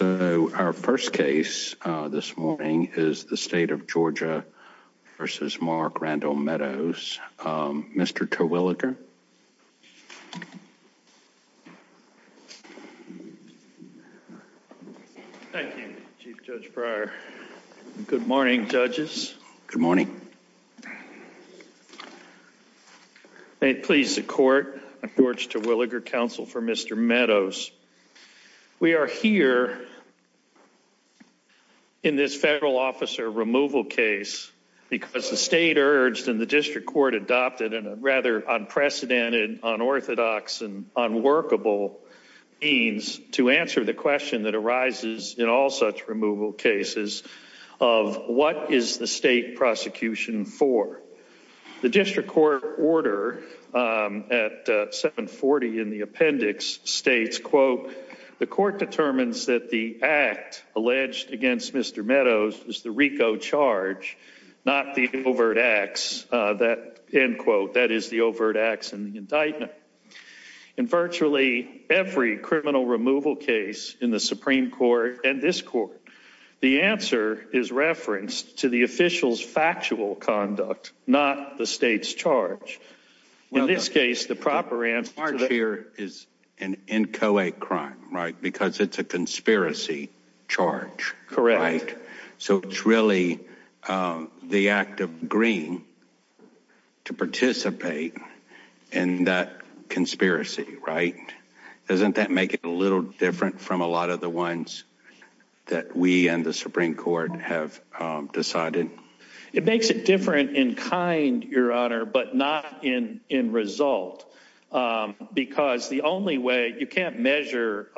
So our first case this morning is the State of Georgia v. Mark Randall Meadows. Mr. Terwilliger. Thank you, Chief Judge Breyer. Good morning, judges. Good morning. May it please the Court, I'm George Terwilliger, counsel for Mr. Meadows. We are here in this federal officer removal case because the state urged and the district court adopted in a rather unprecedented, unorthodox, and unworkable means to answer the question that arises in all such removal cases of what is the state prosecution for? The district court order at 740 in the appendix states, quote, the court determines that the act alleged against Mr. Meadows is the RICO charge, not the overt acts that, end quote, that is the overt acts in the indictment. In virtually every criminal removal case in the Supreme Court and this court, the answer is referenced to the official's factual conduct, not the state's charge. In this case, the proper answer here is an inchoate crime, right? Because it's a conspiracy charge. Correct. So it's really the act of green to participate in that conspiracy. Right. Doesn't that make it a little different from a lot of the ones that we and the Supreme Court have decided? It makes it different in kind, Your Honor, but not in result, because the only way you can't measure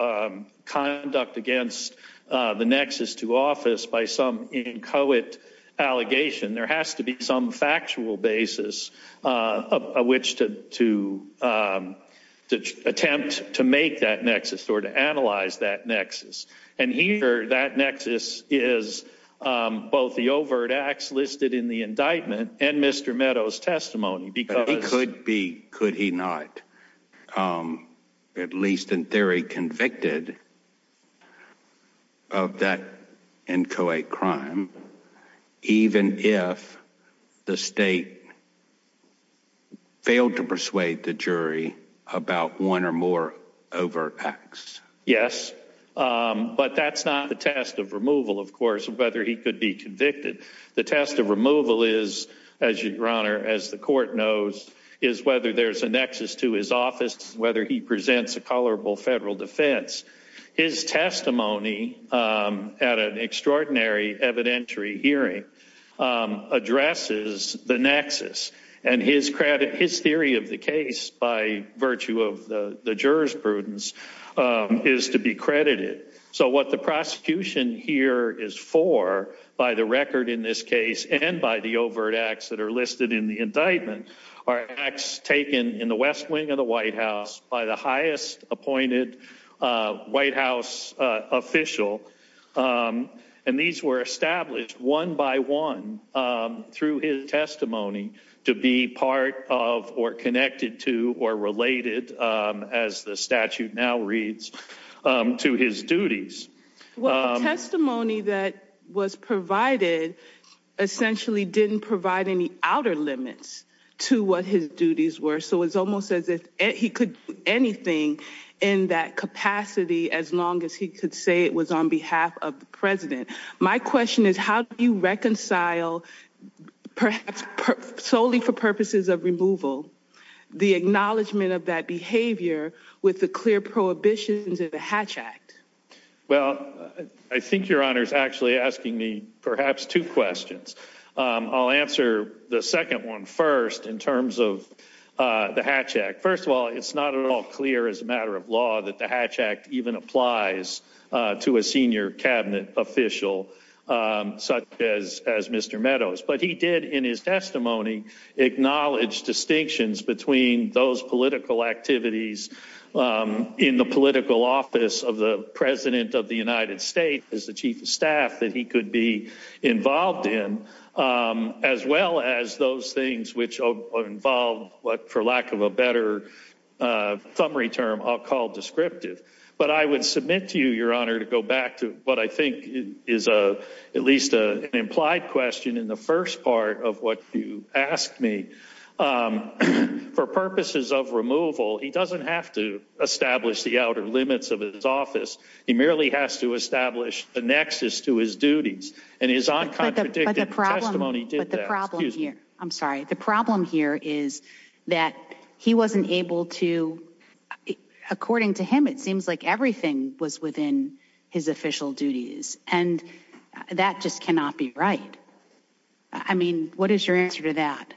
conduct against the nexus to office by some inchoate allegation. There has to be some factual basis of which to to attempt to make that nexus or to analyze that nexus. And here that nexus is both the overt acts listed in the indictment and Mr. Meadows testimony. Because he could be, could he not, at least in theory, convicted of that inchoate crime, even if the state failed to persuade the jury about one or more overt acts? Yes. But that's not the test of removal, of course, of whether he could be convicted. The test of removal is, as Your Honor, as the court knows, is whether there's a nexus to his office, whether he presents a colorable federal defense. His testimony at an extraordinary evidentiary hearing addresses the nexus and his credit, his theory of the case by virtue of the jurors prudence is to be credited. So what the prosecution here is for by the record in this case and by the overt acts that are listed in the indictment are acts taken in the West Wing of the White House by the highest appointed White House official. And these were established one by one through his testimony to be part of or connected to or related, as the statute now reads, to his duties. Well, the testimony that was provided essentially didn't provide any outer limits to what his duties were. So it's almost as if he could do anything in that capacity as long as he could say it was on behalf of the president. My question is, how do you reconcile, perhaps solely for purposes of removal, the acknowledgement of that behavior with the clear prohibitions of the Hatch Act? Well, I think Your Honor is actually asking me perhaps two questions. I'll answer the second one first in terms of the Hatch Act. First of all, it's not at all clear as a matter of law that the Hatch Act even applies to a senior cabinet official such as Mr. Meadows. But he did in his testimony acknowledge distinctions between those political activities in the political office of the president of the United States, that he could be involved in, as well as those things which involved what, for lack of a better summary term, I'll call descriptive. But I would submit to you, Your Honor, to go back to what I think is at least an implied question in the first part of what you asked me. For purposes of removal, he doesn't have to establish the outer limits of his office. He merely has to establish the nexus to his duties. But the problem here is that he wasn't able to, according to him, it seems like everything was within his official duties. And that just cannot be right. I mean, what is your answer to that?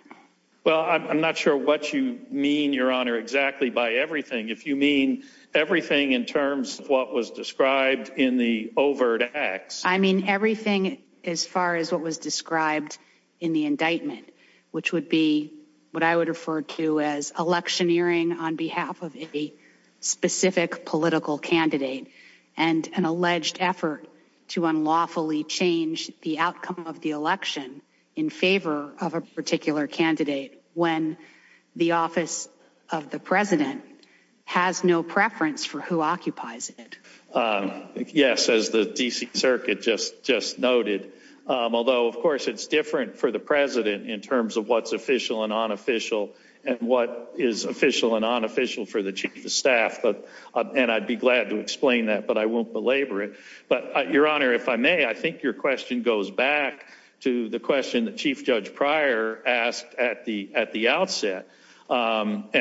Well, I'm not sure what you mean, Your Honor, exactly by everything. If you mean everything in terms of what was described in the overt acts. I mean everything as far as what was described in the indictment, which would be what I would refer to as electioneering on behalf of a specific political candidate and an alleged effort to unlawfully change the outcome of the election in favor of a particular candidate when the office of the president has no preference for who occupies it. Yes, as the D.C. Circuit just noted. Although, of course, it's different for the president in terms of what's official and unofficial and what is official and unofficial for the chief of staff. And I'd be glad to explain that, but I won't belabor it. But, Your Honor, if I may, I think your question goes back to the question that Chief Judge Pryor asked at the outset. And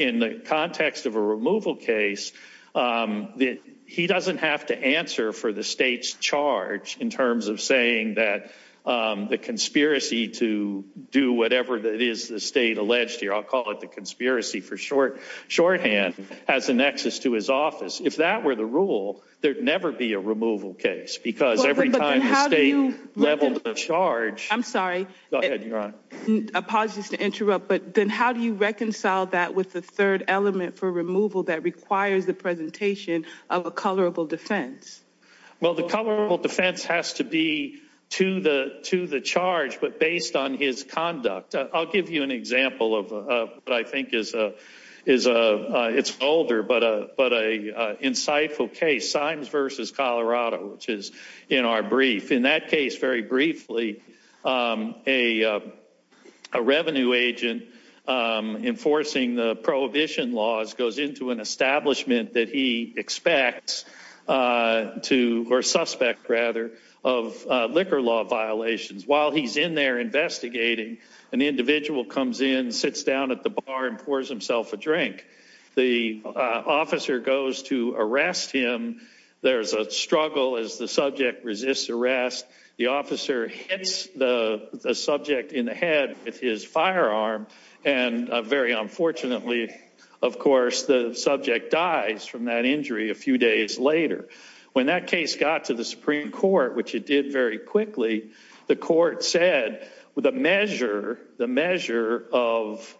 in the context of a removal case, he doesn't have to answer for the state's charge in terms of saying that the conspiracy to do whatever it is the state alleged here, I'll call it the conspiracy for shorthand, has a nexus to his office. If that were the rule, there'd never be a removal case because every time the state leveled the charge... I'm sorry. Go ahead, Your Honor. I apologize to interrupt, but then how do you reconcile that with the third element for removal that requires the presentation of a colorable defense? Well, the colorable defense has to be to the charge, but based on his conduct. I'll give you an example of what I think is an older but an insightful case, Symes v. Colorado, which is in our brief. In that case, very briefly, a revenue agent enforcing the prohibition laws goes into an establishment that he expects to, or suspect, rather, of liquor law violations. While he's in there investigating, an individual comes in, sits down at the bar, and pours himself a drink. The officer goes to arrest him. There's a struggle as the subject resists arrest. The officer hits the subject in the head with his firearm, and very unfortunately, of course, the subject dies from that injury a few days later. When that case got to the Supreme Court, which it did very quickly, the court said the measure of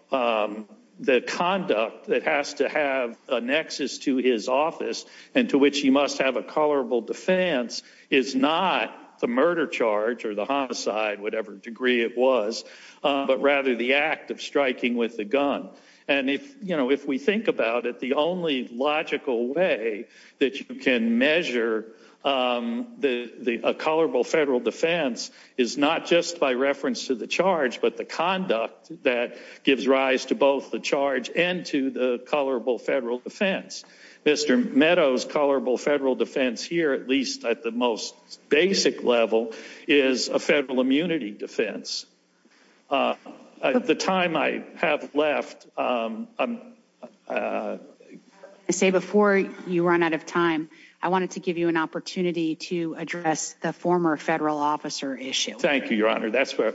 the conduct that has to have a nexus to his office, and to which he must have a colorable defense, is not the murder charge or the homicide, whatever degree it was, but rather the act of striking with the gun. If we think about it, the only logical way that you can measure a colorable federal defense is not just by reference to the charge, but the conduct that gives rise to both the charge and to the colorable federal defense. Mr. Meadows' colorable federal defense here, at least at the most basic level, is a federal immunity defense. At the time I have left, I'm... I say before you run out of time, I wanted to give you an opportunity to address the former federal officer issue. Thank you, Your Honor. That's where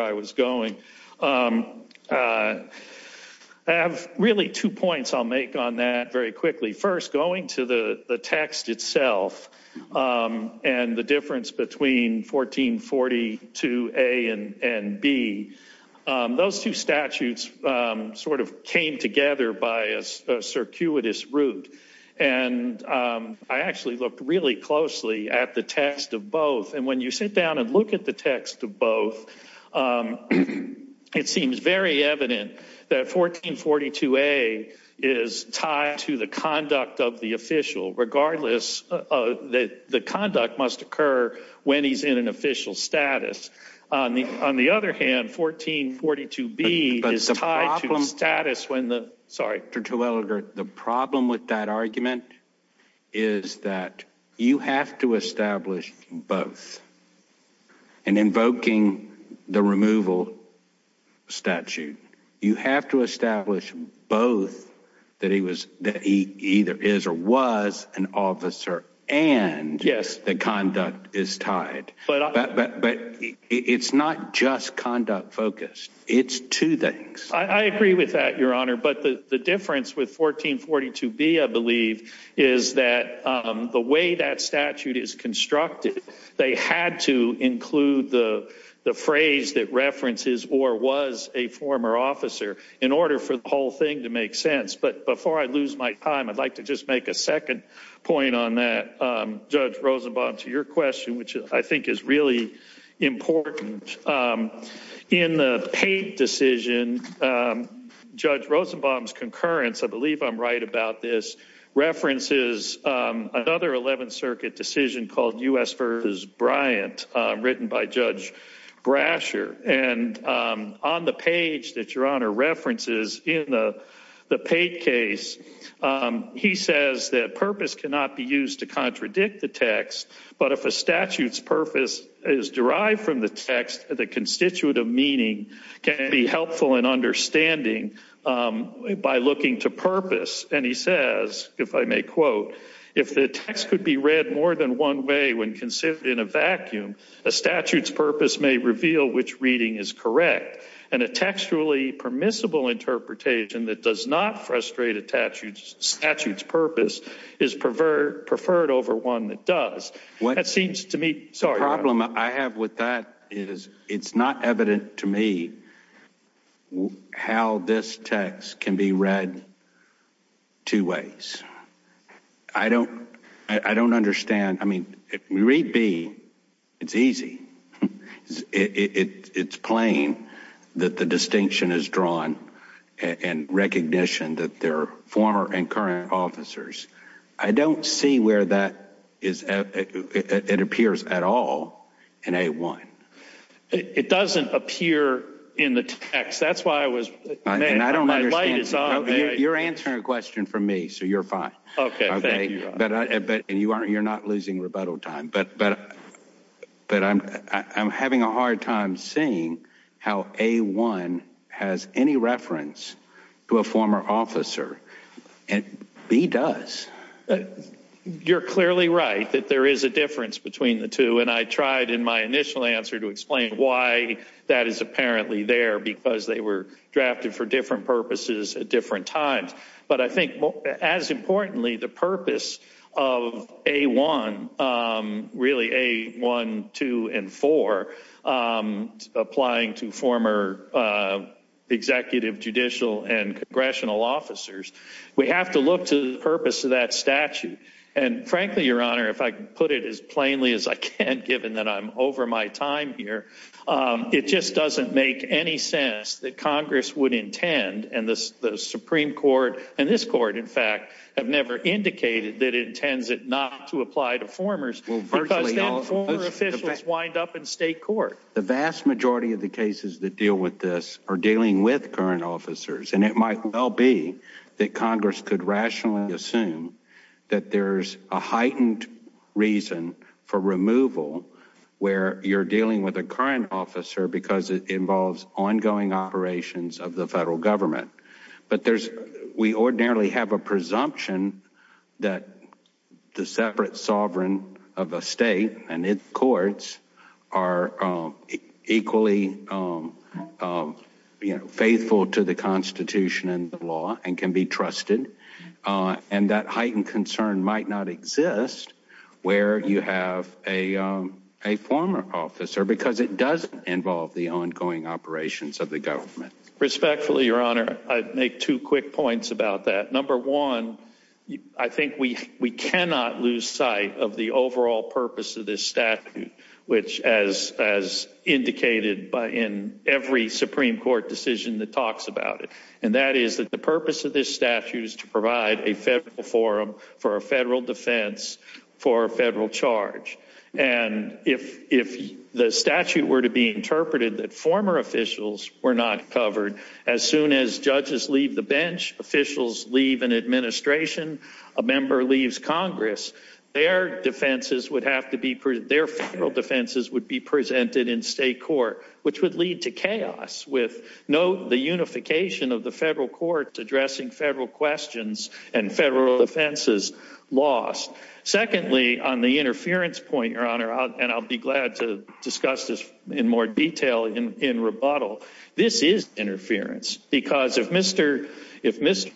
I was going. I have really two points I'll make on that very quickly. First, going to the text itself and the difference between 1442A and B, those two statutes sort of came together by a circuitous route. And I actually looked really closely at the text of both. And when you sit down and look at the text of both, it seems very evident that 1442A is tied to the conduct of the official, regardless that the conduct must occur when he's in an official status. On the other hand, 1442B is tied to status when the... And invoking the removal statute, you have to establish both that he either is or was an officer and the conduct is tied. But it's not just conduct focused. It's two things. I agree with that, Your Honor. But the difference with 1442B, I believe, is that the way that statute is constructed, they had to include the phrase that references or was a former officer in order for the whole thing to make sense. But before I lose my time, I'd like to just make a second point on that, Judge Rosenbaum, to your question, which I think is really important. In the Pate decision, Judge Rosenbaum's concurrence, I believe I'm right about this, references another 11th Circuit decision called U.S. v. Bryant, written by Judge Brasher. And on the page that Your Honor references in the Pate case, he says that purpose cannot be used to contradict the text, but if a statute's purpose is derived from the text, the constitutive meaning can be helpful in understanding by looking to purpose. And he says, if I may quote, if the text could be read more than one way when considered in a vacuum, a statute's purpose may reveal which reading is correct. And a textually permissible interpretation that does not frustrate a statute's purpose is preferred over one that does. That seems to me... The problem I have with that is it's not evident to me how this text can be read two ways. I don't understand. I mean, if we read B, it's easy. It's plain that the distinction is drawn in recognition that they're former and current officers. I don't see where that appears at all in A1. It doesn't appear in the text. That's why I was... You're answering a question for me, so you're fine. Okay. You're not losing rebuttal time, but I'm having a hard time seeing how A1 has any reference to a former officer. B does. You're clearly right that there is a difference between the two, and I tried in my initial answer to explain why that is apparently there, because they were drafted for different purposes at different times. But I think, as importantly, the purpose of A1, really A1, 2, and 4, applying to former executive, judicial, and congressional officers, we have to look to the purpose of that statute. And frankly, Your Honor, if I could put it as plainly as I can, given that I'm over my time here, it just doesn't make any sense that Congress would intend, and the Supreme Court and this Court, in fact, have never indicated that it intends not to apply to formers, because then former officials wind up in state court. The vast majority of the cases that deal with this are dealing with current officers, and it might well be that Congress could rationally assume that there's a heightened reason for removal where you're dealing with a current officer because it involves ongoing operations of the federal government. But we ordinarily have a presumption that the separate sovereign of a state and its courts are equally faithful to the Constitution and the law and can be trusted, and that heightened concern might not exist where you have a former officer, because it does involve the ongoing operations of the government. Respectfully, Your Honor, I'd make two quick points about that. Number one, I think we cannot lose sight of the overall purpose of this statute, which, as indicated in every Supreme Court decision that talks about it, and that is that the purpose of this statute is to provide a federal forum for a federal defense for a federal charge. And if the statute were to be interpreted that former officials were not covered, as soon as judges leave the bench, officials leave an administration, a member leaves Congress, their federal defenses would be presented in state court, which would lead to chaos, with, note, the unification of the federal courts addressing federal questions and federal defenses lost. Secondly, on the interference point, Your Honor, and I'll be glad to discuss this in more detail in rebuttal, this is interference, because if Mr.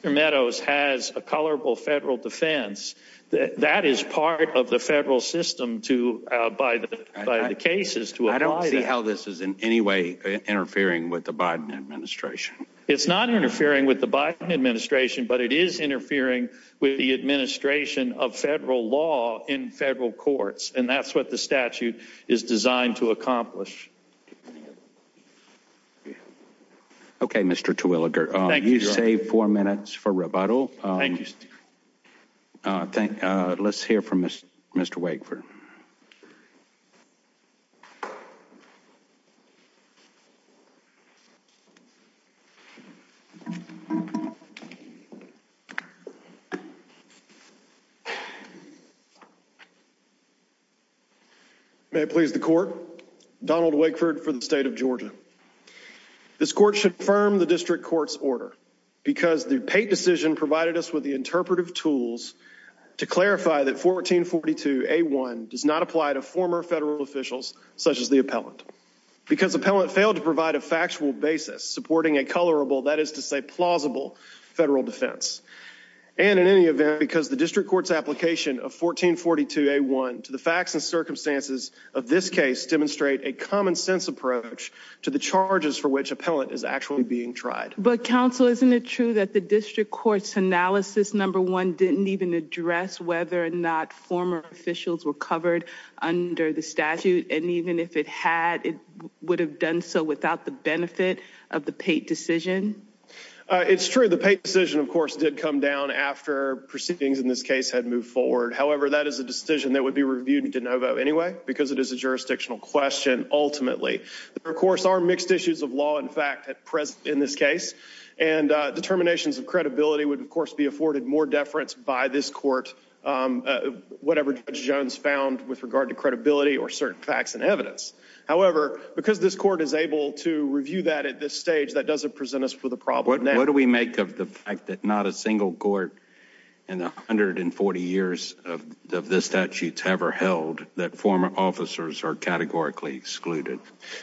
Meadows has a colorable federal defense, that is part of the federal system by the cases to apply that. I don't see how this is in any way interfering with the Biden administration. It's not interfering with the Biden administration, but it is interfering with the administration of federal law in federal courts, and that's what the statute is designed to accomplish. Okay, Mr. Terwilliger, you save four minutes for rebuttal. Thank you. Let's hear from Mr. Wakeford. May it please the court, Donald Wakeford for the state of Georgia. This court should affirm the district court's order, because the Pate decision provided us with the interpretive tools to clarify that 1442A1 does not apply to former federal officials such as the appellant, because the appellant failed to provide a factual basis supporting a colorable, that is to say, plausible federal defense, and in any event, because the district court's application of 1442A1 to the facts and circumstances of this case demonstrate a common-sense approach to the charges for which appellant is actually being tried. But, counsel, isn't it true that the district court's analysis, number one, didn't even address whether or not former officials were covered under the statute, and even if it had, it would have done so without the benefit of the Pate decision? It's true. The Pate decision, of course, did come down after proceedings in this case had moved forward. However, that is a decision that would be reviewed de novo anyway, because it is a jurisdictional question, ultimately. There, of course, are mixed issues of law and fact in this case, and determinations of credibility would, of course, be afforded more deference by this court, whatever Judge Jones found with regard to credibility or certain facts and evidence. However, because this court is able to review that at this stage, that doesn't present us with a problem. What do we make of the fact that not a single court in the 140 years of this statute's ever held that former officers are categorically excluded?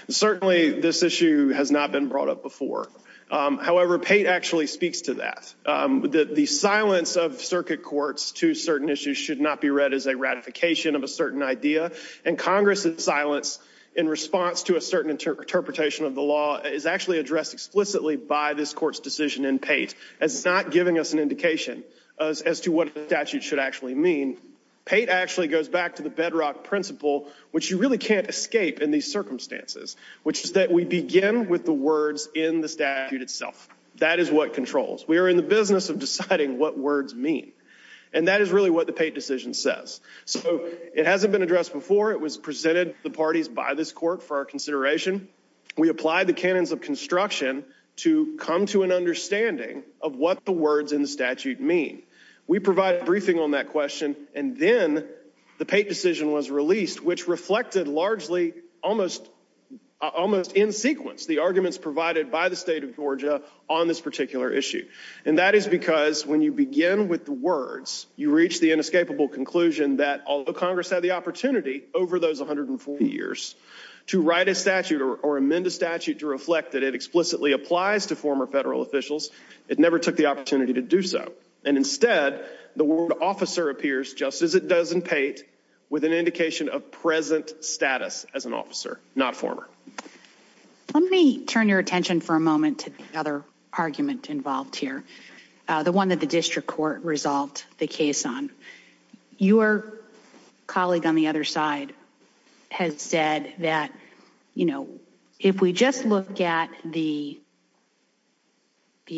Certainly, this issue has not been brought up before. However, Pate actually speaks to that. The silence of circuit courts to certain issues should not be read as a ratification of a certain idea, and Congress's silence in response to a certain interpretation of the law is actually addressed explicitly by this court's decision in Pate, as it's not giving us an indication as to what a statute should actually mean. Pate actually goes back to the bedrock principle, which you really can't escape in these circumstances, which is that we begin with the words in the statute itself. That is what controls. We are in the business of deciding what words mean, and that is really what the Pate decision says. So it hasn't been addressed before. It was presented to the parties by this court for our consideration. We applied the canons of construction to come to an understanding of what the words in the statute mean. We provided a briefing on that question, and then the Pate decision was released, which reflected largely almost in sequence the arguments provided by the state of Georgia on this particular issue. And that is because when you begin with the words, you reach the inescapable conclusion that, although Congress had the opportunity over those 140 years to write a statute or amend a statute to reflect that it explicitly applies to former federal officials, it never took the opportunity to do so. And instead, the word officer appears, just as it does in Pate, with an indication of present status as an officer, not former. Let me turn your attention for a moment to the other argument involved here, the one that the district court resolved the case on. Your colleague on the other side has said that, you know, if we just look at the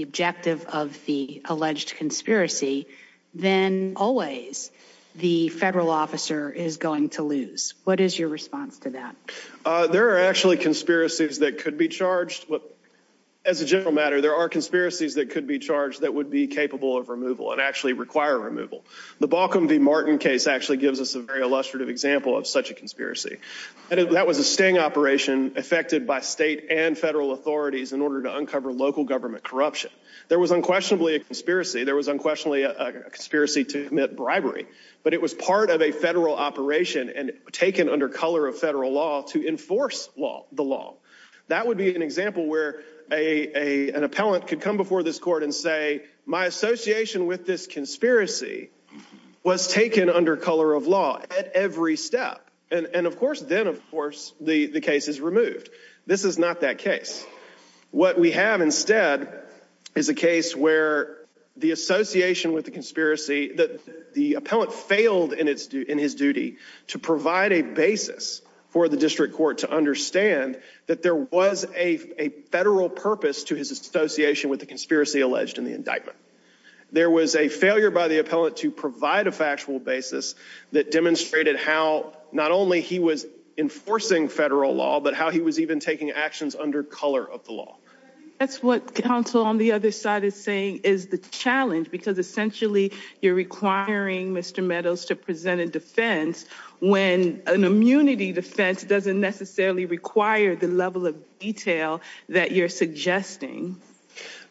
objective of the alleged conspiracy, then always the federal officer is going to lose. What is your response to that? There are actually conspiracies that could be charged. As a general matter, there are conspiracies that could be charged that would be capable of removal and actually require removal. The Baucom v. Martin case actually gives us a very illustrative example of such a conspiracy. That was a sting operation effected by state and federal authorities in order to uncover local government corruption. There was unquestionably a conspiracy. There was unquestionably a conspiracy to commit bribery. But it was part of a federal operation and taken under color of federal law to enforce the law. That would be an example where an appellant could come before this court and say, my association with this conspiracy was taken under color of law at every step. And, of course, then, of course, the case is removed. This is not that case. What we have instead is a case where the association with the conspiracy, the appellant failed in his duty to provide a basis for the district court to understand that there was a federal purpose to his association with the conspiracy alleged in the indictment. There was a failure by the appellant to provide a factual basis that demonstrated how not only he was enforcing federal law, but how he was even taking actions under color of the law. That's what counsel on the other side is saying is the challenge, because essentially you're requiring Mr. Meadows to present a defense when an immunity defense doesn't necessarily require the level of detail that you're suggesting.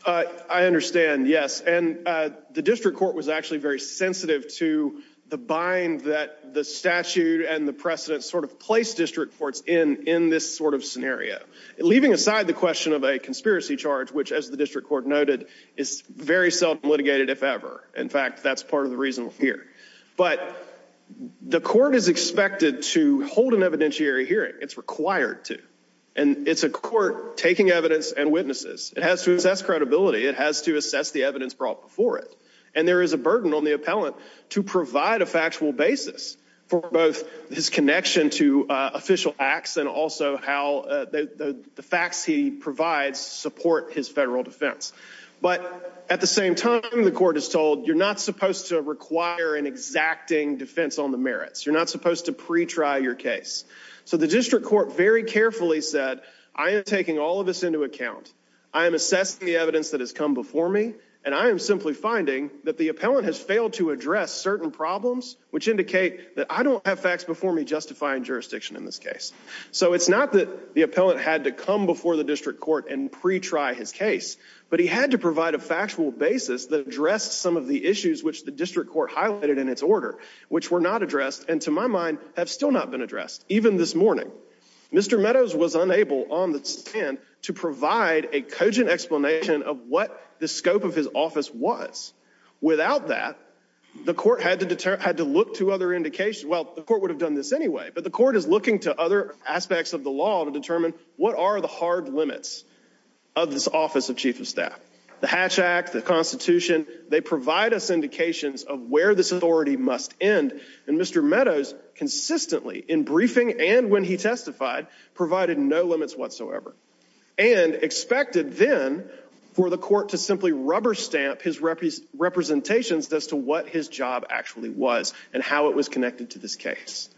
I understand. Yes. And the district court was actually very sensitive to the bind that the statute and the precedent sort of placed district courts in in this sort of scenario, leaving aside the question of a conspiracy charge, which, as the district court noted, is very self-litigated, if ever. In fact, that's part of the reason here. But the court is expected to hold an evidentiary hearing. It's required to. And it's a court taking evidence and witnesses. It has to assess credibility. It has to assess the evidence brought before it. And there is a burden on the appellant to provide a factual basis for both his connection to official acts and also how the facts he provides support his federal defense. But at the same time, the court is told you're not supposed to require an exacting defense on the merits. You're not supposed to pre-try your case. So the district court very carefully said, I am taking all of this into account. I am assessing the evidence that has come before me, and I am simply finding that the appellant has failed to address certain problems, which indicate that I don't have facts before me justifying jurisdiction in this case. So it's not that the appellant had to come before the district court and pre-try his case, but he had to provide a factual basis that addressed some of the issues which the district court highlighted in its order, which were not addressed and, to my mind, have still not been addressed, even this morning. Mr. Meadows was unable on the stand to provide a cogent explanation of what the scope of his office was. Without that, the court had to look to other indications. Well, the court would have done this anyway, but the court is looking to other aspects of the law to determine what are the hard limits of this Office of Chief of Staff. The Hatch Act, the Constitution, they provide us indications of where this authority must end, and Mr. Meadows consistently, in briefing and when he testified, provided no limits whatsoever and expected then for the court to simply rubber stamp his representations as to what his job actually was and how it was connected to this case.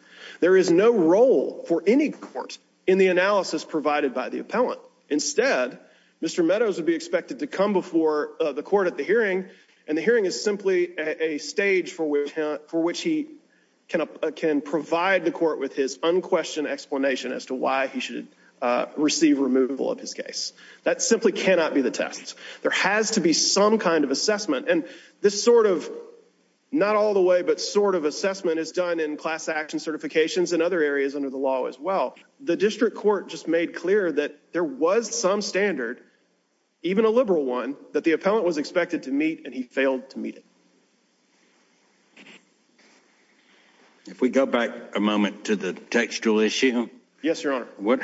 There is no role for any court in the analysis provided by the appellant. Instead, Mr. Meadows would be expected to come before the court at the hearing, and the hearing is simply a stage for which he can provide the court with his unquestioned explanation as to why he should receive removal of his case. That simply cannot be the test. There has to be some kind of assessment, and this sort of, not all the way, but sort of assessment is done in class action certifications and other areas under the law as well. The district court just made clear that there was some standard, even a liberal one, that the appellant was expected to meet, and he failed to meet it. If we go back a moment to the textual issue. Yes, Your Honor.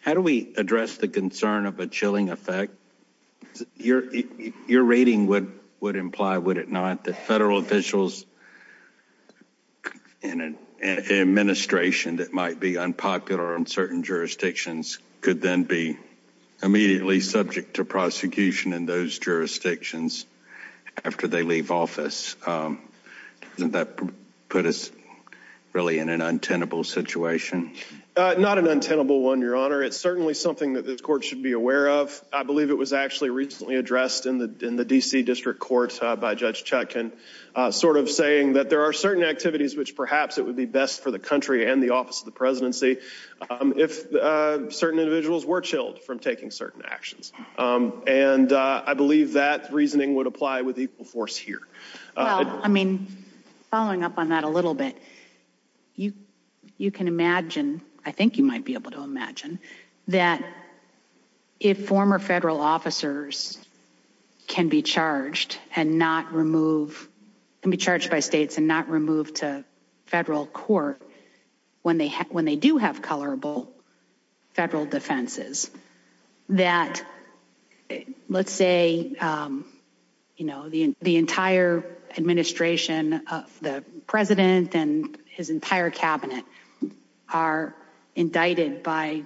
How do we address the concern of a chilling effect? Your rating would imply, would it not, that federal officials in an administration that might be unpopular in certain jurisdictions could then be immediately subject to prosecution in those jurisdictions after they leave office. Doesn't that put us really in an untenable situation? Not an untenable one, Your Honor. It's certainly something that this court should be aware of. I believe it was actually recently addressed in the D.C. District Court by Judge Chutkan, sort of saying that there are certain activities which perhaps it would be best for the country and the office of the presidency if certain individuals were chilled from taking certain actions. And I believe that reasoning would apply with equal force here. Well, I mean, following up on that a little bit, you can imagine, I think you might be able to imagine, that if former federal officers can be charged and not removed, can be charged by states and not removed to federal court when they do have colorable federal defenses, that, let's say, you know, the entire administration of the president and his entire cabinet are indicted by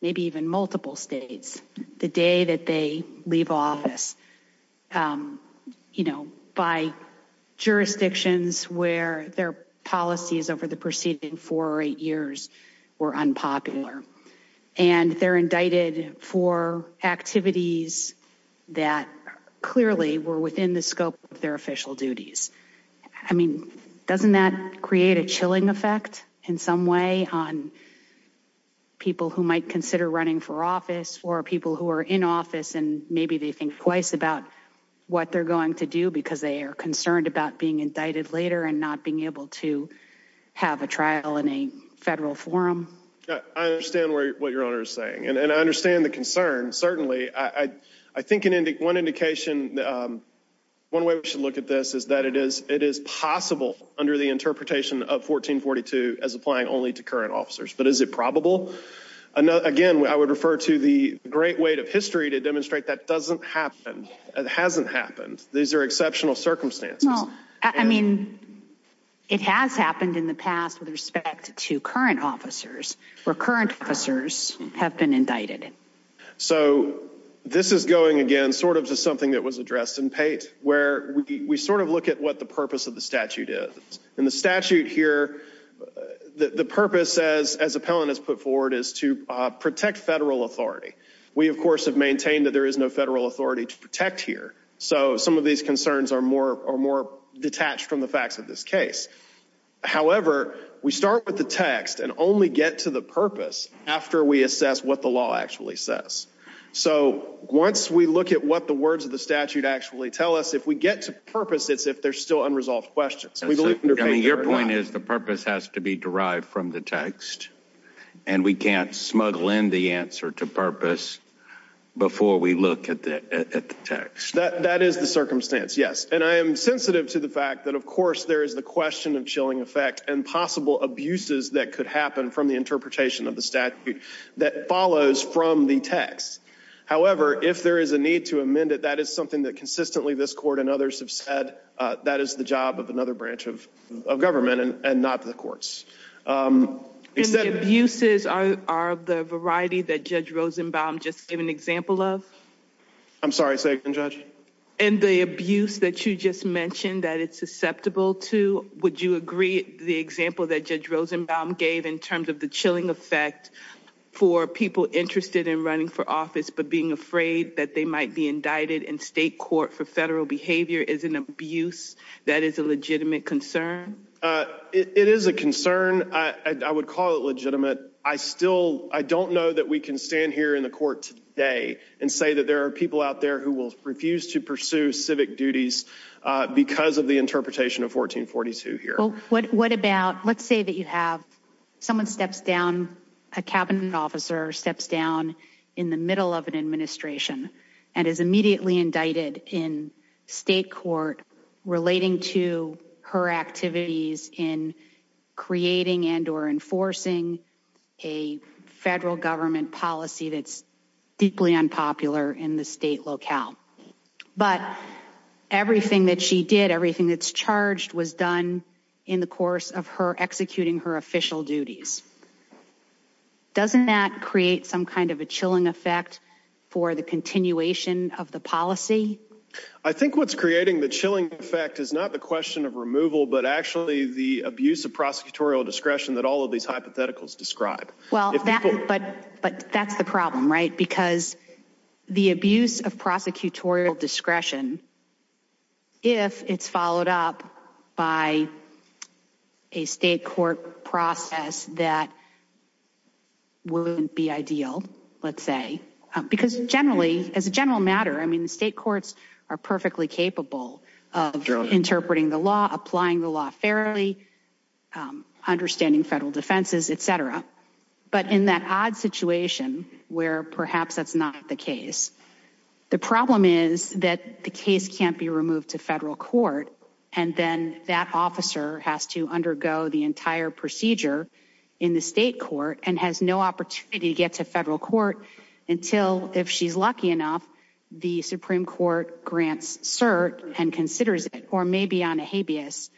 maybe even multiple states the day that they leave office, you know, by jurisdictions where their policies over the preceding four or eight years were unpopular. And they're indicted for activities that clearly were within the scope of their official duties. I mean, doesn't that create a chilling effect in some way on people who might consider running for office or people who are in office and maybe they think twice about what they're going to do because they are concerned about being indicted later and not being able to have a trial in a federal forum? I understand what your Honor is saying, and I understand the concern, certainly. I think one indication, one way we should look at this is that it is possible under the interpretation of 1442 as applying only to current officers, but is it probable? Again, I would refer to the great weight of history to demonstrate that doesn't happen. It hasn't happened. These are exceptional circumstances. Well, I mean, it has happened in the past with respect to current officers, where current officers have been indicted. So this is going, again, sort of to something that was addressed in Pate, where we sort of look at what the purpose of the statute is. In the statute here, the purpose, as appellant has put forward, is to protect federal authority. We, of course, have maintained that there is no federal authority to protect here. So some of these concerns are more detached from the facts of this case. However, we start with the text and only get to the purpose after we assess what the law actually says. So once we look at what the words of the statute actually tell us, if we get to purpose, it's if there's still unresolved questions. Your point is the purpose has to be derived from the text, and we can't smuggle in the answer to purpose before we look at the text. That is the circumstance, yes. And I am sensitive to the fact that, of course, there is the question of chilling effect and possible abuses that could happen from the interpretation of the statute that follows from the text. However, if there is a need to amend it, that is something that consistently this court and others have said that is the job of another branch of government and not the courts. And the abuses are the variety that Judge Rosenbaum just gave an example of? I'm sorry, Second Judge? And the abuse that you just mentioned that it's susceptible to, would you agree the example that Judge Rosenbaum gave in terms of the chilling effect for people interested in running for office but being afraid that they might be indicted in state court for federal behavior is an abuse that is a legitimate concern? It is a concern. I would call it legitimate. I still don't know that we can stand here in the court today and say that there are people out there who will refuse to pursue civic duties because of the interpretation of 1442 here. Well, what about, let's say that you have someone steps down, a cabinet officer steps down in the middle of an administration and is immediately indicted in state court relating to her activities in creating and or enforcing a federal government policy that's deeply unpopular in the state locale. But everything that she did, everything that's charged, was done in the course of her executing her official duties. Doesn't that create some kind of a chilling effect for the continuation of the policy? I think what's creating the chilling effect is not the question of removal but actually the abuse of prosecutorial discretion that all of these hypotheticals describe. Well, but that's the problem, right? Because the abuse of prosecutorial discretion, if it's followed up by a state court process that wouldn't be ideal, let's say, because generally, as a general matter, I mean the state courts are perfectly capable of interpreting the law, applying the law fairly, understanding federal defenses, etc. But in that odd situation where perhaps that's not the case, the problem is that the case can't be removed to federal court and then that officer has to undergo the entire procedure in the state court and has no opportunity to get to federal court until, if she's lucky enough, the Supreme Court grants cert and considers it or maybe on a habeas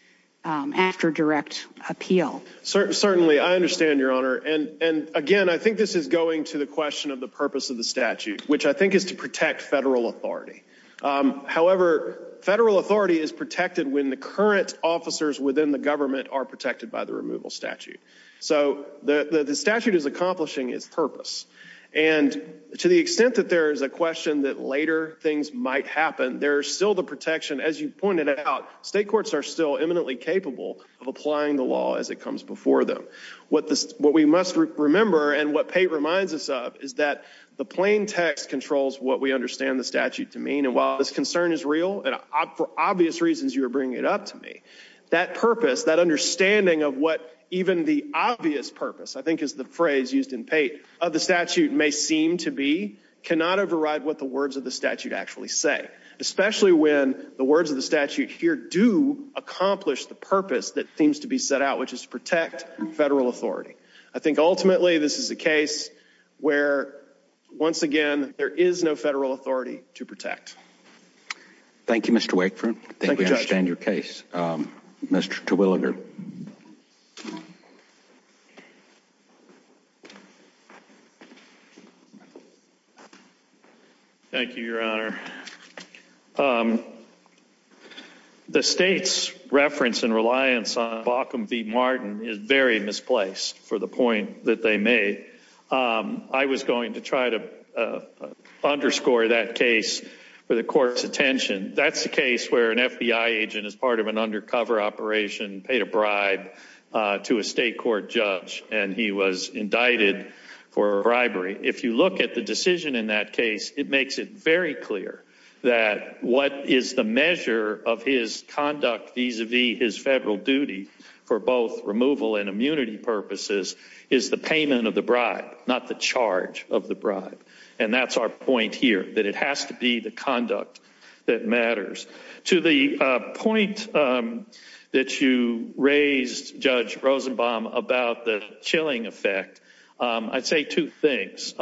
after direct appeal. Certainly. I understand, Your Honor. And again, I think this is going to the question of the purpose of the statute, which I think is to protect federal authority. However, federal authority is protected when the current officers within the government are protected by the removal statute. So the statute is accomplishing its purpose. And to the extent that there is a question that later things might happen, there is still the protection, as you pointed out, state courts are still eminently capable of applying the law as it comes before them. What we must remember, and what Pate reminds us of, is that the plain text controls what we understand the statute to mean. And while this concern is real, and for obvious reasons you are bringing it up to me, that purpose, that understanding of what even the obvious purpose, I think is the phrase used in Pate, of the statute may seem to be, cannot override what the words of the statute actually say. Especially when the words of the statute here do accomplish the purpose that seems to be set out, which is to protect federal authority. I think ultimately this is a case where, once again, there is no federal authority to protect. Thank you, Mr. Wakeford. Thank you, Judge. I think we understand your case. Mr. Terwilliger. Thank you, Your Honor. The state's reference and reliance on Bauckham v. Martin is very misplaced, for the point that they made. I was going to try to underscore that case for the court's attention. That's the case where an FBI agent is part of an undercover operation, paid a bribe to a state court judge, and he was indicted for bribery. If you look at the decision in that case, it makes it very clear that what is the measure of his conduct vis-a-vis his federal duty, for both removal and immunity purposes, is the payment of the bribe, not the charge of the bribe. And that's our point here, that it has to be the conduct that matters. To the point that you raised, Judge Rosenbaum, about the chilling effect, I'd say two things.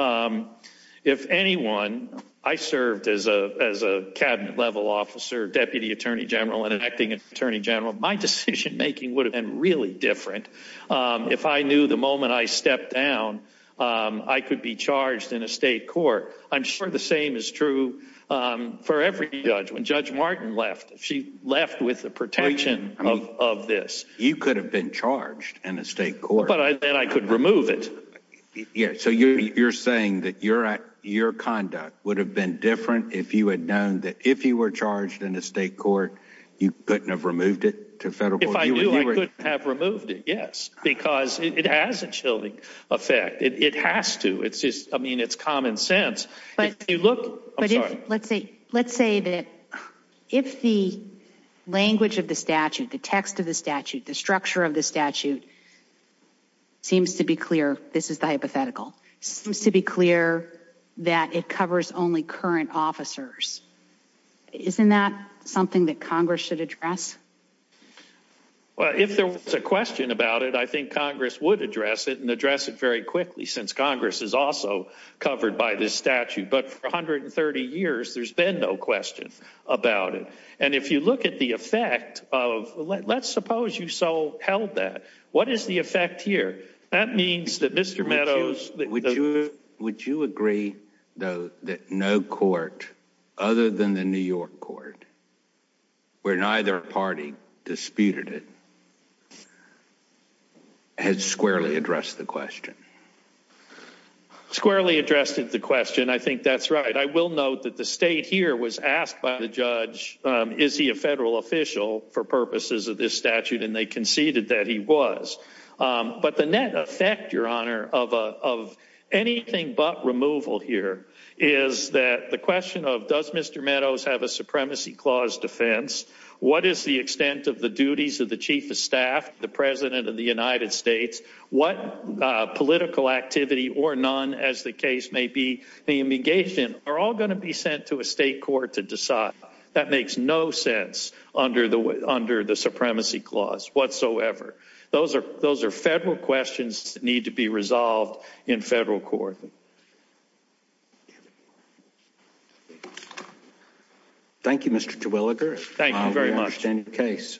If anyone—I served as a cabinet-level officer, deputy attorney general, and an acting attorney general— my decision-making would have been really different if I knew the moment I stepped down, I could be charged in a state court. I'm sure the same is true for every judge. When Judge Martin left, she left with the protection of this. You could have been charged in a state court. But then I could remove it. So you're saying that your conduct would have been different if you had known that if you were charged in a state court, you couldn't have removed it to federal court? If I knew, I couldn't have removed it, yes. Because it has a chilling effect. It has to. I mean, it's common sense. Let's say that if the language of the statute, the text of the statute, the structure of the statute seems to be clear—this is the hypothetical— seems to be clear that it covers only current officers, isn't that something that Congress should address? Well, if there was a question about it, I think Congress would address it and address it very quickly since Congress is also covered by this statute. But for 130 years, there's been no question about it. And if you look at the effect of—let's suppose you so held that. What is the effect here? That means that Mr. Meadows— Would you agree, though, that no court other than the New York court, where neither party disputed it, had squarely addressed the question? Squarely addressed the question. I think that's right. I will note that the state here was asked by the judge, is he a federal official for purposes of this statute? And they conceded that he was. But the net effect, Your Honor, of anything but removal here is that the question of does Mr. Meadows have a Supremacy Clause defense, what is the extent of the duties of the Chief of Staff, the President of the United States, what political activity or none as the case may be engaged in, are all going to be sent to a state court to decide. That makes no sense under the Supremacy Clause whatsoever. Those are federal questions that need to be resolved in federal court. Thank you, Mr. Terwilliger. Thank you very much. We understand your case.